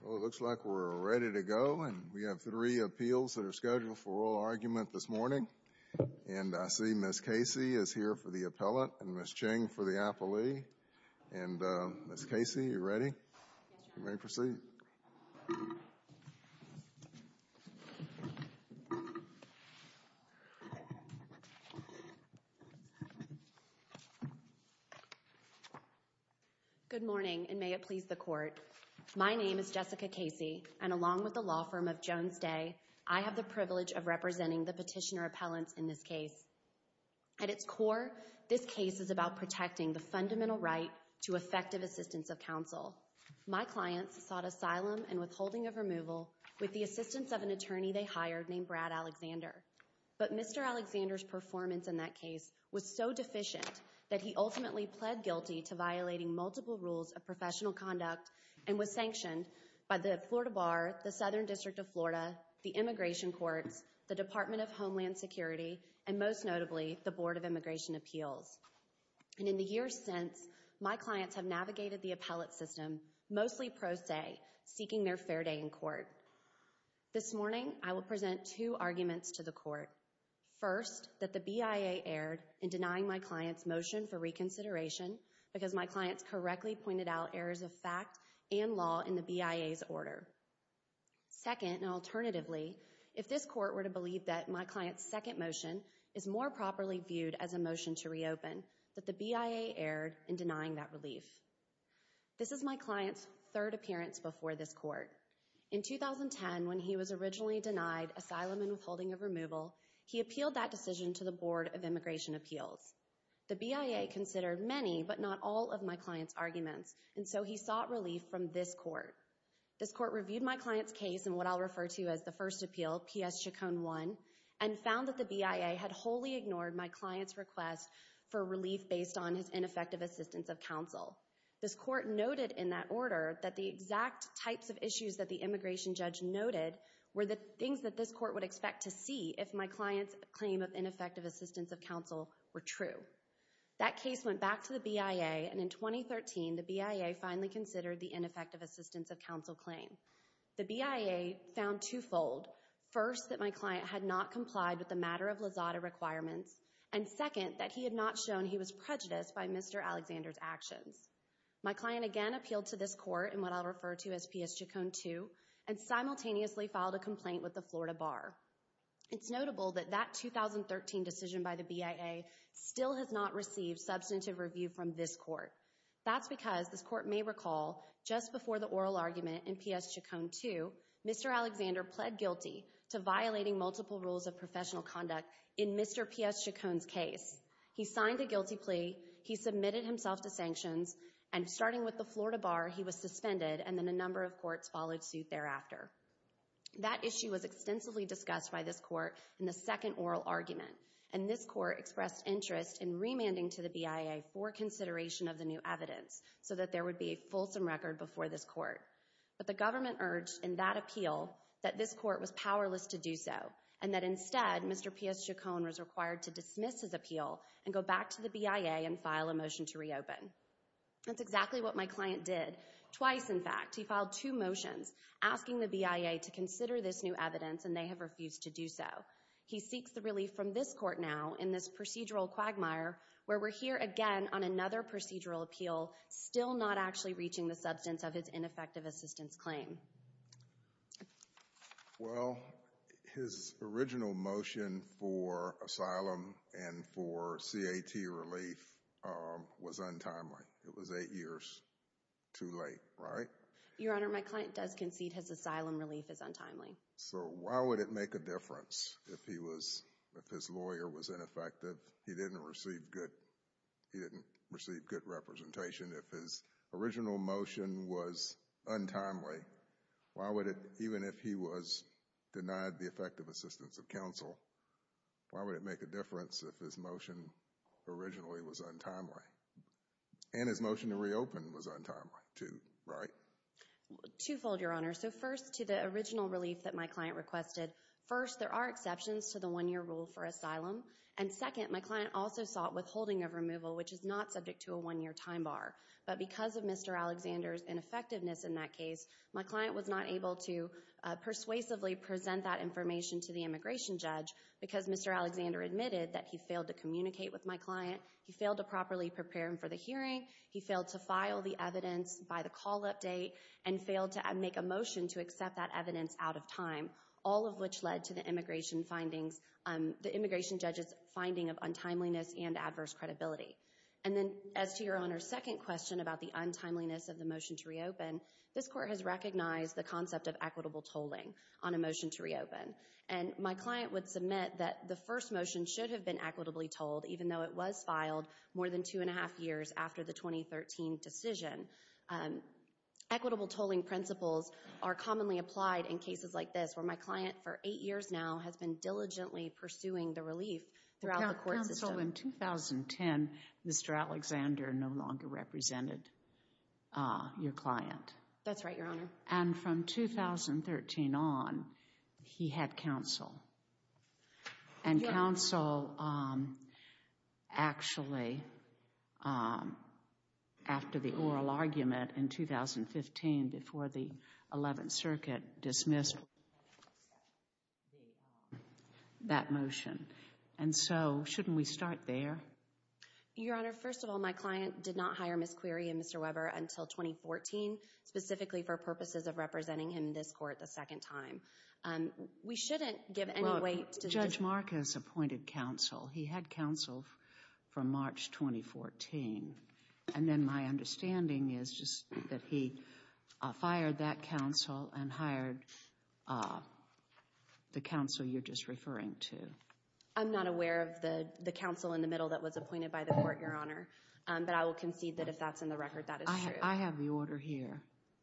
Well, it looks like we're ready to go, and we have three appeals that are scheduled for oral argument this morning. And I see Ms. Casey is here for the appellate and Ms. Ching for the appellee. And, Ms. Casey, are you ready? Yes, Your Honor. You may proceed. Good morning, and may it please the Court. My name is Jessica Casey, and along with the law firm of Jones Day, I have the privilege of representing the petitioner appellants in this case. At its core, this case is about protecting the fundamental right to effective assistance of counsel. My clients sought asylum and withholding of removal with the assistance of an attorney they hired named Brad Alexander. But Mr. Alexander's performance in that case was so deficient that he ultimately pled guilty to violating multiple rules of professional conduct and was sanctioned by the Florida Bar, the Southern District of Florida, the Immigration Courts, the Department of Homeland Security, and most notably, the Board of Immigration Appeals. And in the years since, my clients have navigated the appellate system, mostly pro se, seeking their fair day in court. This morning, I will present two arguments to the Court. First, that the BIA erred in denying my client's motion for reconsideration because my clients correctly pointed out errors of fact and law in the BIA's order. Second, and alternatively, if this Court were to believe that my client's second motion is more properly viewed as a motion to reopen, that the BIA erred in denying that relief. This is my client's third appearance before this Court. In 2010, when he was originally denied asylum and withholding of removal, he appealed that decision to the Board of Immigration Appeals. The BIA considered many, but not all, of my client's arguments, and so he sought relief from this Court. This Court reviewed my client's case in what I'll refer to as the first appeal, PS Chaconne 1, and found that the BIA had wholly ignored my client's request for relief based on his ineffective assistance of counsel. This Court noted in that order that the exact types of issues that the immigration judge noted were the things that this Court would expect to see if my client's claim of ineffective assistance of counsel were true. That case went back to the BIA, and in 2013, the BIA finally considered the ineffective assistance of counsel claim. The BIA found twofold. First, that my client had not complied with the matter of Lazada requirements, and second, that he had not shown he was prejudiced by Mr. Alexander's actions. My client again appealed to this Court in what I'll refer to as PS Chaconne 2, and simultaneously filed a complaint with the Florida Bar. It's notable that that 2013 decision by the BIA still has not received substantive review from this Court. That's because, this Court may recall, just before the oral argument in PS Chaconne 2, Mr. Alexander pled guilty to violating multiple rules of professional conduct in Mr. PS Chaconne's case. He signed a guilty plea, he submitted himself to sanctions, and starting with the Florida Bar, he was suspended, and then a number of courts followed suit thereafter. That issue was extensively discussed by this Court in the second oral argument, and this Court expressed interest in remanding to the BIA for consideration of the new evidence, so that there would be a fulsome record before this Court. But the government urged, in that appeal, that this Court was powerless to do so, and that instead, Mr. PS Chaconne was required to dismiss his appeal, and go back to the BIA and file a motion to reopen. That's exactly what my client did. Twice, in fact, he filed two motions asking the BIA to consider this new evidence, and they have refused to do so. He seeks the relief from this Court now, in this procedural quagmire, where we're here again on another procedural appeal, still not actually reaching the substance of his ineffective assistance claim. Well, his original motion for asylum and for CAT relief was untimely. It was eight years too late, right? Your Honor, my client does concede his asylum relief is untimely. So why would it make a difference if his lawyer was ineffective? He didn't receive good representation. If his original motion was untimely, why would it, even if he was denied the effective assistance of counsel, why would it make a difference if his motion originally was untimely? And his motion to reopen was untimely too, right? Twofold, Your Honor. So first, to the original relief that my client requested. First, there are exceptions to the one-year rule for asylum. And second, my client also sought withholding of removal, which is not subject to a one-year time bar. But because of Mr. Alexander's ineffectiveness in that case, my client was not able to persuasively present that information to the immigration judge because Mr. Alexander admitted that he failed to communicate with my client, he failed to properly prepare him for the hearing, he failed to file the evidence by the call update, and failed to make a motion to accept that evidence out of time, all of which led to the immigration judge's finding of untimeliness and adverse credibility. And then, as to Your Honor's second question about the untimeliness of the motion to reopen, this Court has recognized the concept of equitable tolling on a motion to reopen. And my client would submit that the first motion should have been equitably tolled, even though it was filed more than two and a half years after the 2013 decision. Equitable tolling principles are commonly applied in cases like this, where my client for eight years now has been diligently pursuing the relief throughout the court system. Counsel, in 2010, Mr. Alexander no longer represented your client. That's right, Your Honor. And from 2013 on, he had counsel. And counsel actually, after the oral argument in 2015, before the 11th Circuit, dismissed that motion. And so, shouldn't we start there? Your Honor, first of all, my client did not hire Ms. Query and Mr. Weber until 2014, specifically for purposes of representing him in this Court the second time. We shouldn't give any weight to this. Judge Marcus appointed counsel. He had counsel from March 2014. And then my understanding is just that he fired that counsel and hired the counsel you're just referring to. I'm not aware of the counsel in the middle that was appointed by the Court, Your Honor. But I will concede that if that's in the record, that is true. I have the order here.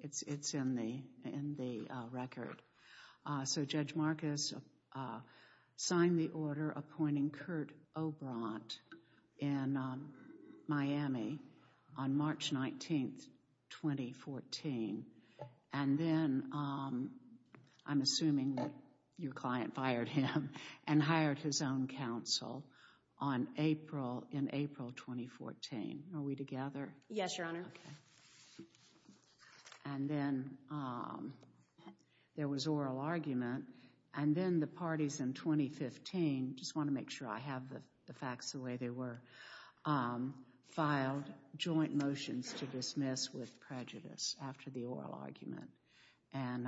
It's in the record. So Judge Marcus signed the order appointing Kurt Obrant in Miami on March 19, 2014. And then I'm assuming that your client fired him and hired his own counsel in April 2014. Are we together? Yes, Your Honor. Okay. And then there was oral argument. And then the parties in 2015, just want to make sure I have the facts the way they were, filed joint motions to dismiss with prejudice after the oral argument. And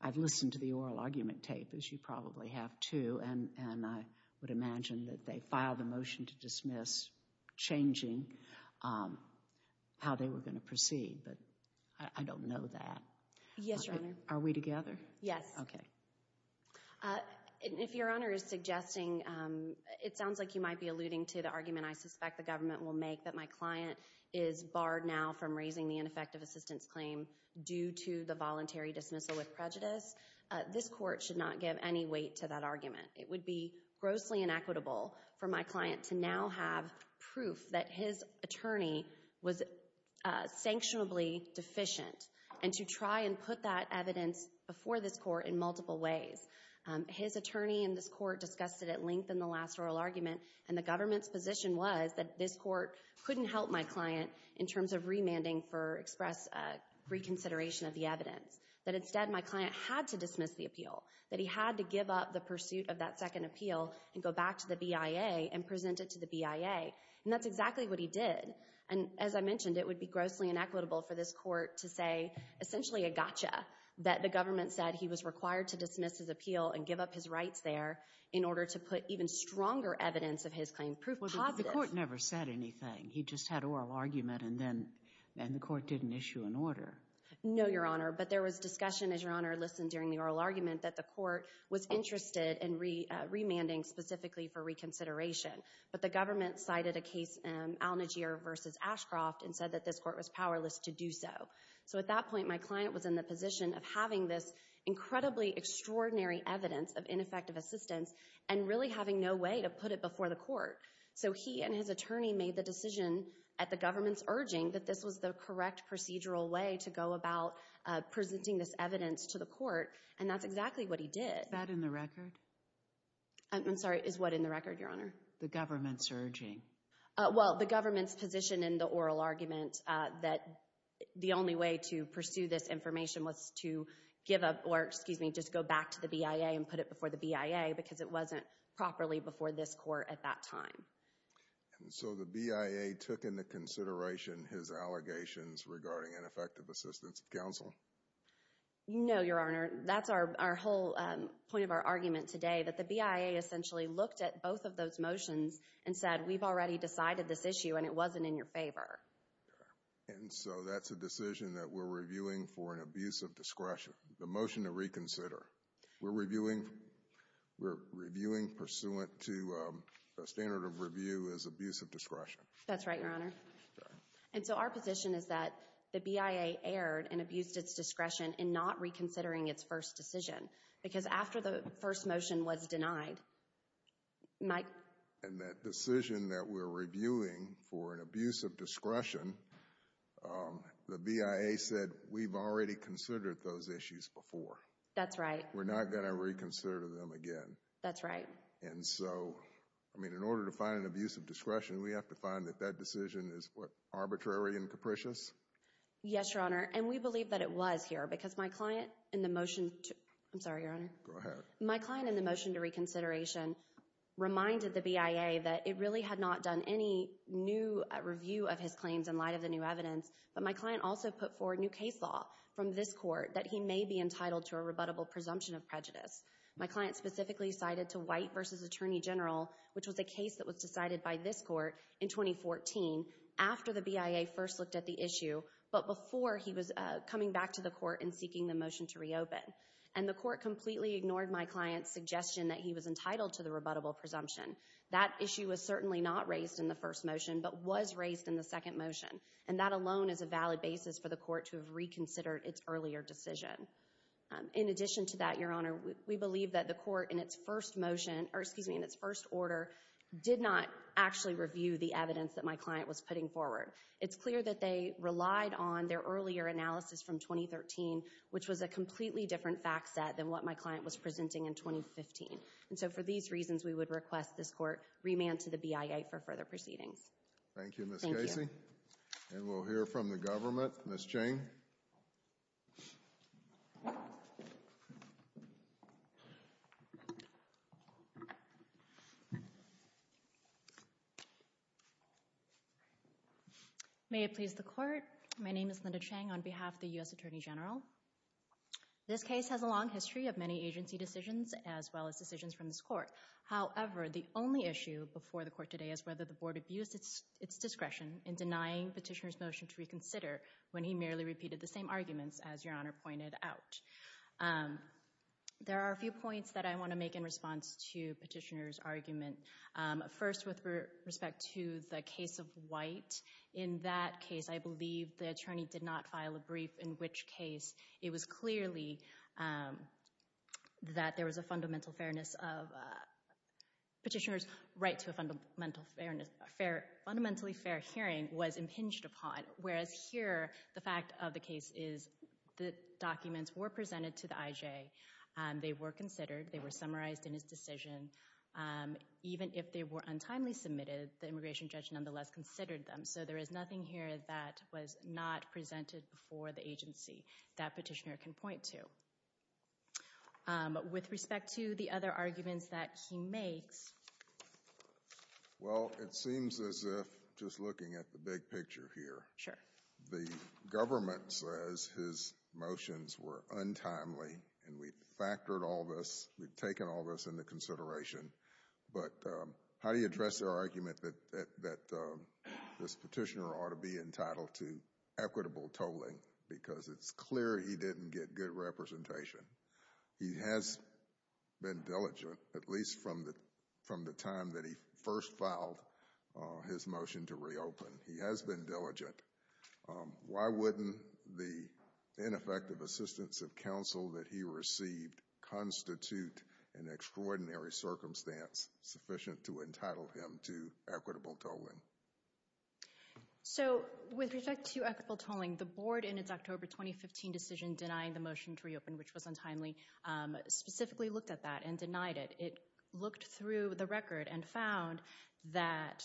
I've listened to the oral argument tape, as you probably have too, and I would imagine that they filed a motion to dismiss changing how they were going to proceed. But I don't know that. Yes, Your Honor. Are we together? Yes. Okay. If Your Honor is suggesting, it sounds like you might be alluding to the argument I suspect the government will make that my client is barred now from raising the ineffective assistance claim due to the voluntary dismissal with prejudice, this court should not give any weight to that argument. It would be grossly inequitable for my client to now have proof that his attorney was sanctionably deficient and to try and put that evidence before this court in multiple ways. His attorney and this court discussed it at length in the last oral argument, and the government's position was that this court couldn't help my client in terms of remanding for express reconsideration of the evidence. That instead my client had to dismiss the appeal, that he had to give up the pursuit of that second appeal and go back to the BIA and present it to the BIA. And that's exactly what he did. And as I mentioned, it would be grossly inequitable for this court to say essentially a gotcha, that the government said he was required to dismiss his appeal and give up his rights there in order to put even stronger evidence of his claim. Proof positive. Well, the court never said anything. He just had oral argument, and then the court didn't issue an order. No, Your Honor. But there was discussion, as Your Honor listened during the oral argument, that the court was interested in remanding specifically for reconsideration. But the government cited a case, Al Najeer v. Ashcroft, and said that this court was powerless to do so. So at that point, my client was in the position of having this incredibly extraordinary evidence of ineffective assistance and really having no way to put it before the court. procedural way to go about presenting this evidence to the court, and that's exactly what he did. Is that in the record? I'm sorry, is what in the record, Your Honor? The government's urging. Well, the government's position in the oral argument that the only way to pursue this information was to give up or, excuse me, just go back to the BIA and put it before the BIA because it wasn't properly before this court at that time. And so the BIA took into consideration his allegations regarding ineffective assistance of counsel. No, Your Honor. That's our whole point of our argument today, that the BIA essentially looked at both of those motions and said, we've already decided this issue and it wasn't in your favor. And so that's a decision that we're reviewing for an abuse of discretion. The motion to reconsider. We're reviewing pursuant to the standard of review as abuse of discretion. That's right, Your Honor. And so our position is that the BIA erred and abused its discretion in not reconsidering its first decision because after the first motion was denied, Mike. And that decision that we're reviewing for an abuse of discretion, the BIA said, we've already considered those issues before. That's right. We're not going to reconsider them again. That's right. And so, I mean, in order to find an abuse of discretion, we have to find that that decision is, what, arbitrary and capricious? Yes, Your Honor, and we believe that it was here because my client in the motion to, I'm sorry, Your Honor. Go ahead. My client in the motion to reconsideration reminded the BIA that it really had not done any new review of his claims in light of the new evidence, but my client also put forward new case law from this court that he may be entitled to a rebuttable presumption of prejudice. My client specifically cited to White v. Attorney General, which was a case that was decided by this court in 2014 after the BIA first looked at the issue, but before he was coming back to the court and seeking the motion to reopen. And the court completely ignored my client's suggestion that he was entitled to the rebuttable presumption. That issue was certainly not raised in the first motion, but was raised in the second motion, and that alone is a valid basis for the court to have reconsidered its earlier decision. In addition to that, Your Honor, we believe that the court in its first motion, or excuse me, in its first order, did not actually review the evidence that my client was putting forward. It's clear that they relied on their earlier analysis from 2013, which was a completely different fact set than what my client was presenting in 2015. And so for these reasons, we would request this court remand to the BIA for further proceedings. Thank you, Ms. Casey. Thank you. And we'll hear from the government. Ms. Cheng. May it please the court. My name is Linda Cheng on behalf of the U.S. Attorney General. This case has a long history of many agency decisions as well as decisions from this court. However, the only issue before the court today is whether the board abused its discretion in denying Petitioner's motion to reconsider when he merely repeated the same arguments, as Your Honor pointed out. There are a few points that I want to make in response to Petitioner's argument. First, with respect to the case of White, in that case I believe the attorney did not file a brief, in which case it was clearly that there was a fundamental fairness of Petitioner's right to a fundamentally fair hearing was impinged upon. Whereas here, the fact of the case is the documents were presented to the IJ. They were considered. They were summarized in his decision. Even if they were untimely submitted, the immigration judge nonetheless considered them. So there is nothing here that was not presented before the agency that Petitioner can point to. With respect to the other arguments that he makes... Well, it seems as if, just looking at the big picture here, the government says his motions were untimely and we factored all this, we've taken all this into consideration. But how do you address their argument that this Petitioner ought to be entitled to equitable tolling because it's clear he didn't get good representation? He has been diligent, at least from the time that he first filed his motion to reopen. He has been diligent. Why wouldn't the ineffective assistance of counsel that he received constitute an extraordinary circumstance sufficient to entitle him to equitable tolling? So with respect to equitable tolling, the board in its October 2015 decision denying the motion to reopen, which was untimely, specifically looked at that and denied it. It looked through the record and found that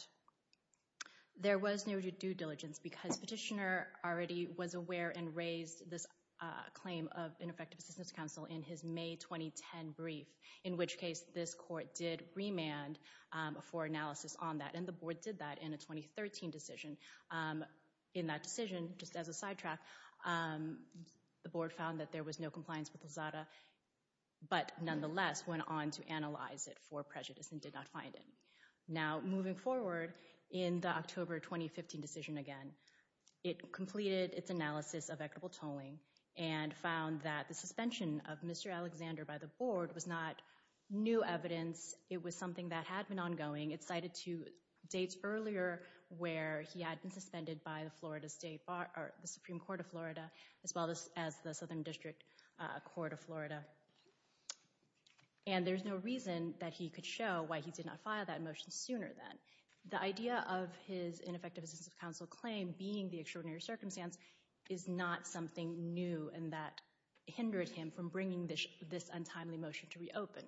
there was no due diligence because Petitioner already was aware and raised this claim of ineffective assistance of counsel in his May 2010 brief, in which case this court did remand for analysis on that. And the board did that in a 2013 decision. In that decision, just as a sidetrack, the board found that there was no compliance with Lozada, but nonetheless went on to analyze it for prejudice and did not find it. Now, moving forward, in the October 2015 decision again, it completed its analysis of equitable tolling and found that the suspension of Mr. Alexander by the board was not new evidence. It was something that had been ongoing. It cited two dates earlier where he had been suspended by the Florida State Bar, or the Supreme Court of Florida, as well as the Southern District Court of Florida. And there's no reason that he could show why he did not file that motion sooner then. The idea of his ineffective assistance of counsel claim being the extraordinary circumstance is not something new and that hindered him from bringing this untimely motion to reopen.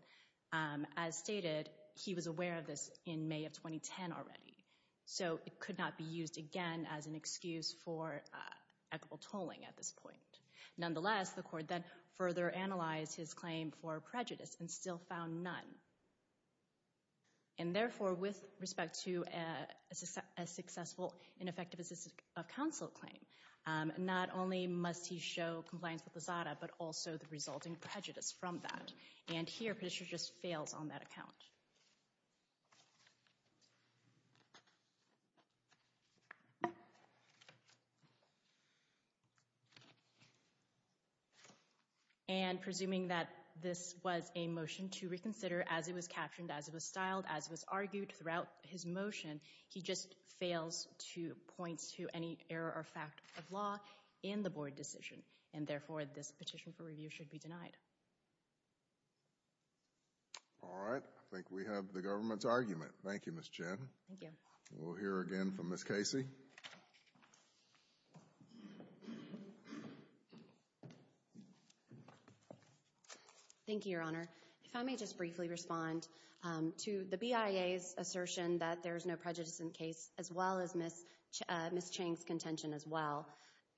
As stated, he was aware of this in May of 2010 already, so it could not be used again as an excuse for equitable tolling at this point. Nonetheless, the court then further analyzed his claim for prejudice and still found none. And therefore, with respect to a successful and effective assistance of counsel claim, not only must he show compliance with Lozada, but also the resulting prejudice from that. And here, Petitioner just fails on that account. And presuming that this was a motion to reconsider as it was captioned, as it was styled, as it was argued, throughout his motion, he just fails to point to any error or fact of law in the board decision. And therefore, this petition for review should be denied. All right. I think we have the government's argument. Thank you, Ms. Chen. Thank you. We'll hear again from Ms. Casey. Thank you, Your Honor. If I may just briefly respond to the BIA's assertion that there is no prejudice in the case, as well as Ms. Chang's contention as well.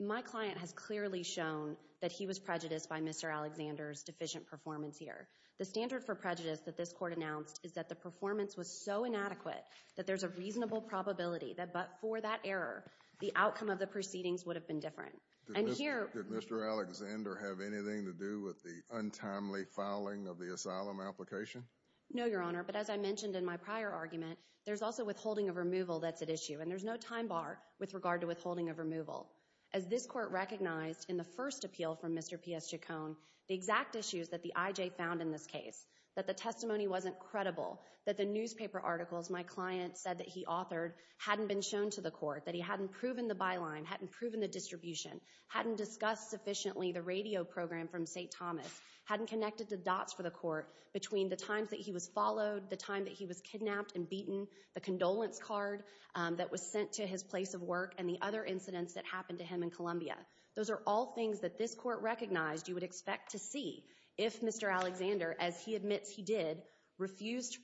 My client has clearly shown that he was prejudiced by Mr. Alexander's deficient performance here. The standard for prejudice that this court announced is that the performance was so inadequate that there's a reasonable probability that but for that error, the outcome of the proceedings would have been different. And here— Did Mr. Alexander have anything to do with the untimely filing of the asylum application? No, Your Honor. But as I mentioned in my prior argument, there's also withholding of removal that's at issue. And there's no time bar with regard to withholding of removal. As this court recognized in the first appeal from Mr. P.S. Chacon, the exact issues that the IJ found in this case, that the testimony wasn't credible, that the newspaper articles my client said that he authored hadn't been shown to the court, that he hadn't proven the byline, hadn't proven the distribution, hadn't discussed sufficiently the radio program from St. Thomas, hadn't connected the dots for the court between the times that he was followed, the time that he was kidnapped and beaten, the condolence card that was sent to his place of work, and the other incidents that happened to him in Columbia. Those are all things that this court recognized you would expect to see if Mr. Alexander, as he admits he did, refused to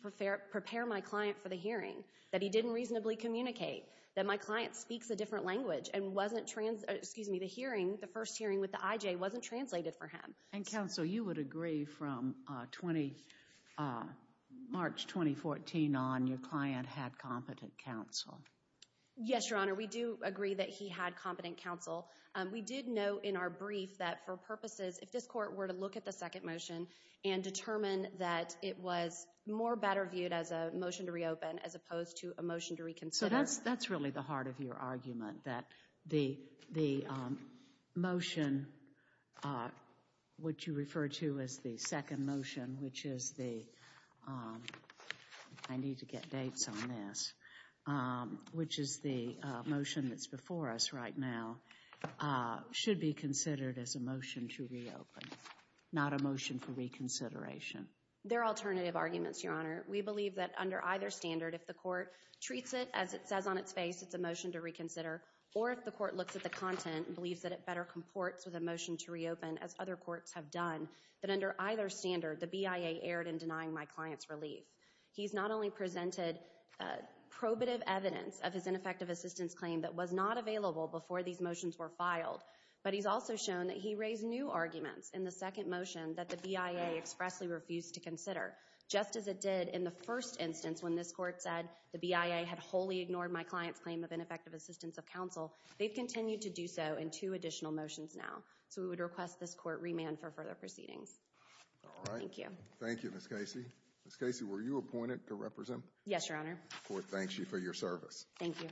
prepare my client for the hearing, that he didn't reasonably communicate, that my client speaks a different language and wasn't—excuse me, the hearing, the first hearing with the IJ wasn't translated for him. And counsel, you would agree from March 2014 on your client had competent counsel? Yes, Your Honor, we do agree that he had competent counsel. We did note in our brief that for purposes, if this court were to look at the second motion and determine that it was more better viewed as a motion to reopen as opposed to a motion to reconsider— which you refer to as the second motion, which is the—I need to get dates on this— which is the motion that's before us right now, should be considered as a motion to reopen, not a motion for reconsideration. They're alternative arguments, Your Honor. We believe that under either standard, if the court treats it as it says on its face it's a motion to reconsider or if the court looks at the content and believes that it better comports with a motion to reopen, as other courts have done, that under either standard, the BIA erred in denying my client's relief. He's not only presented probative evidence of his ineffective assistance claim that was not available before these motions were filed, but he's also shown that he raised new arguments in the second motion that the BIA expressly refused to consider, just as it did in the first instance when this court said the BIA had wholly ignored my client's claim of ineffective assistance of counsel. They've continued to do so in two additional motions now. So we would request this court remand for further proceedings. Thank you. Thank you, Ms. Casey. Ms. Casey, were you appointed to represent? Yes, Your Honor. The court thanks you for your service. Thank you. Thank you.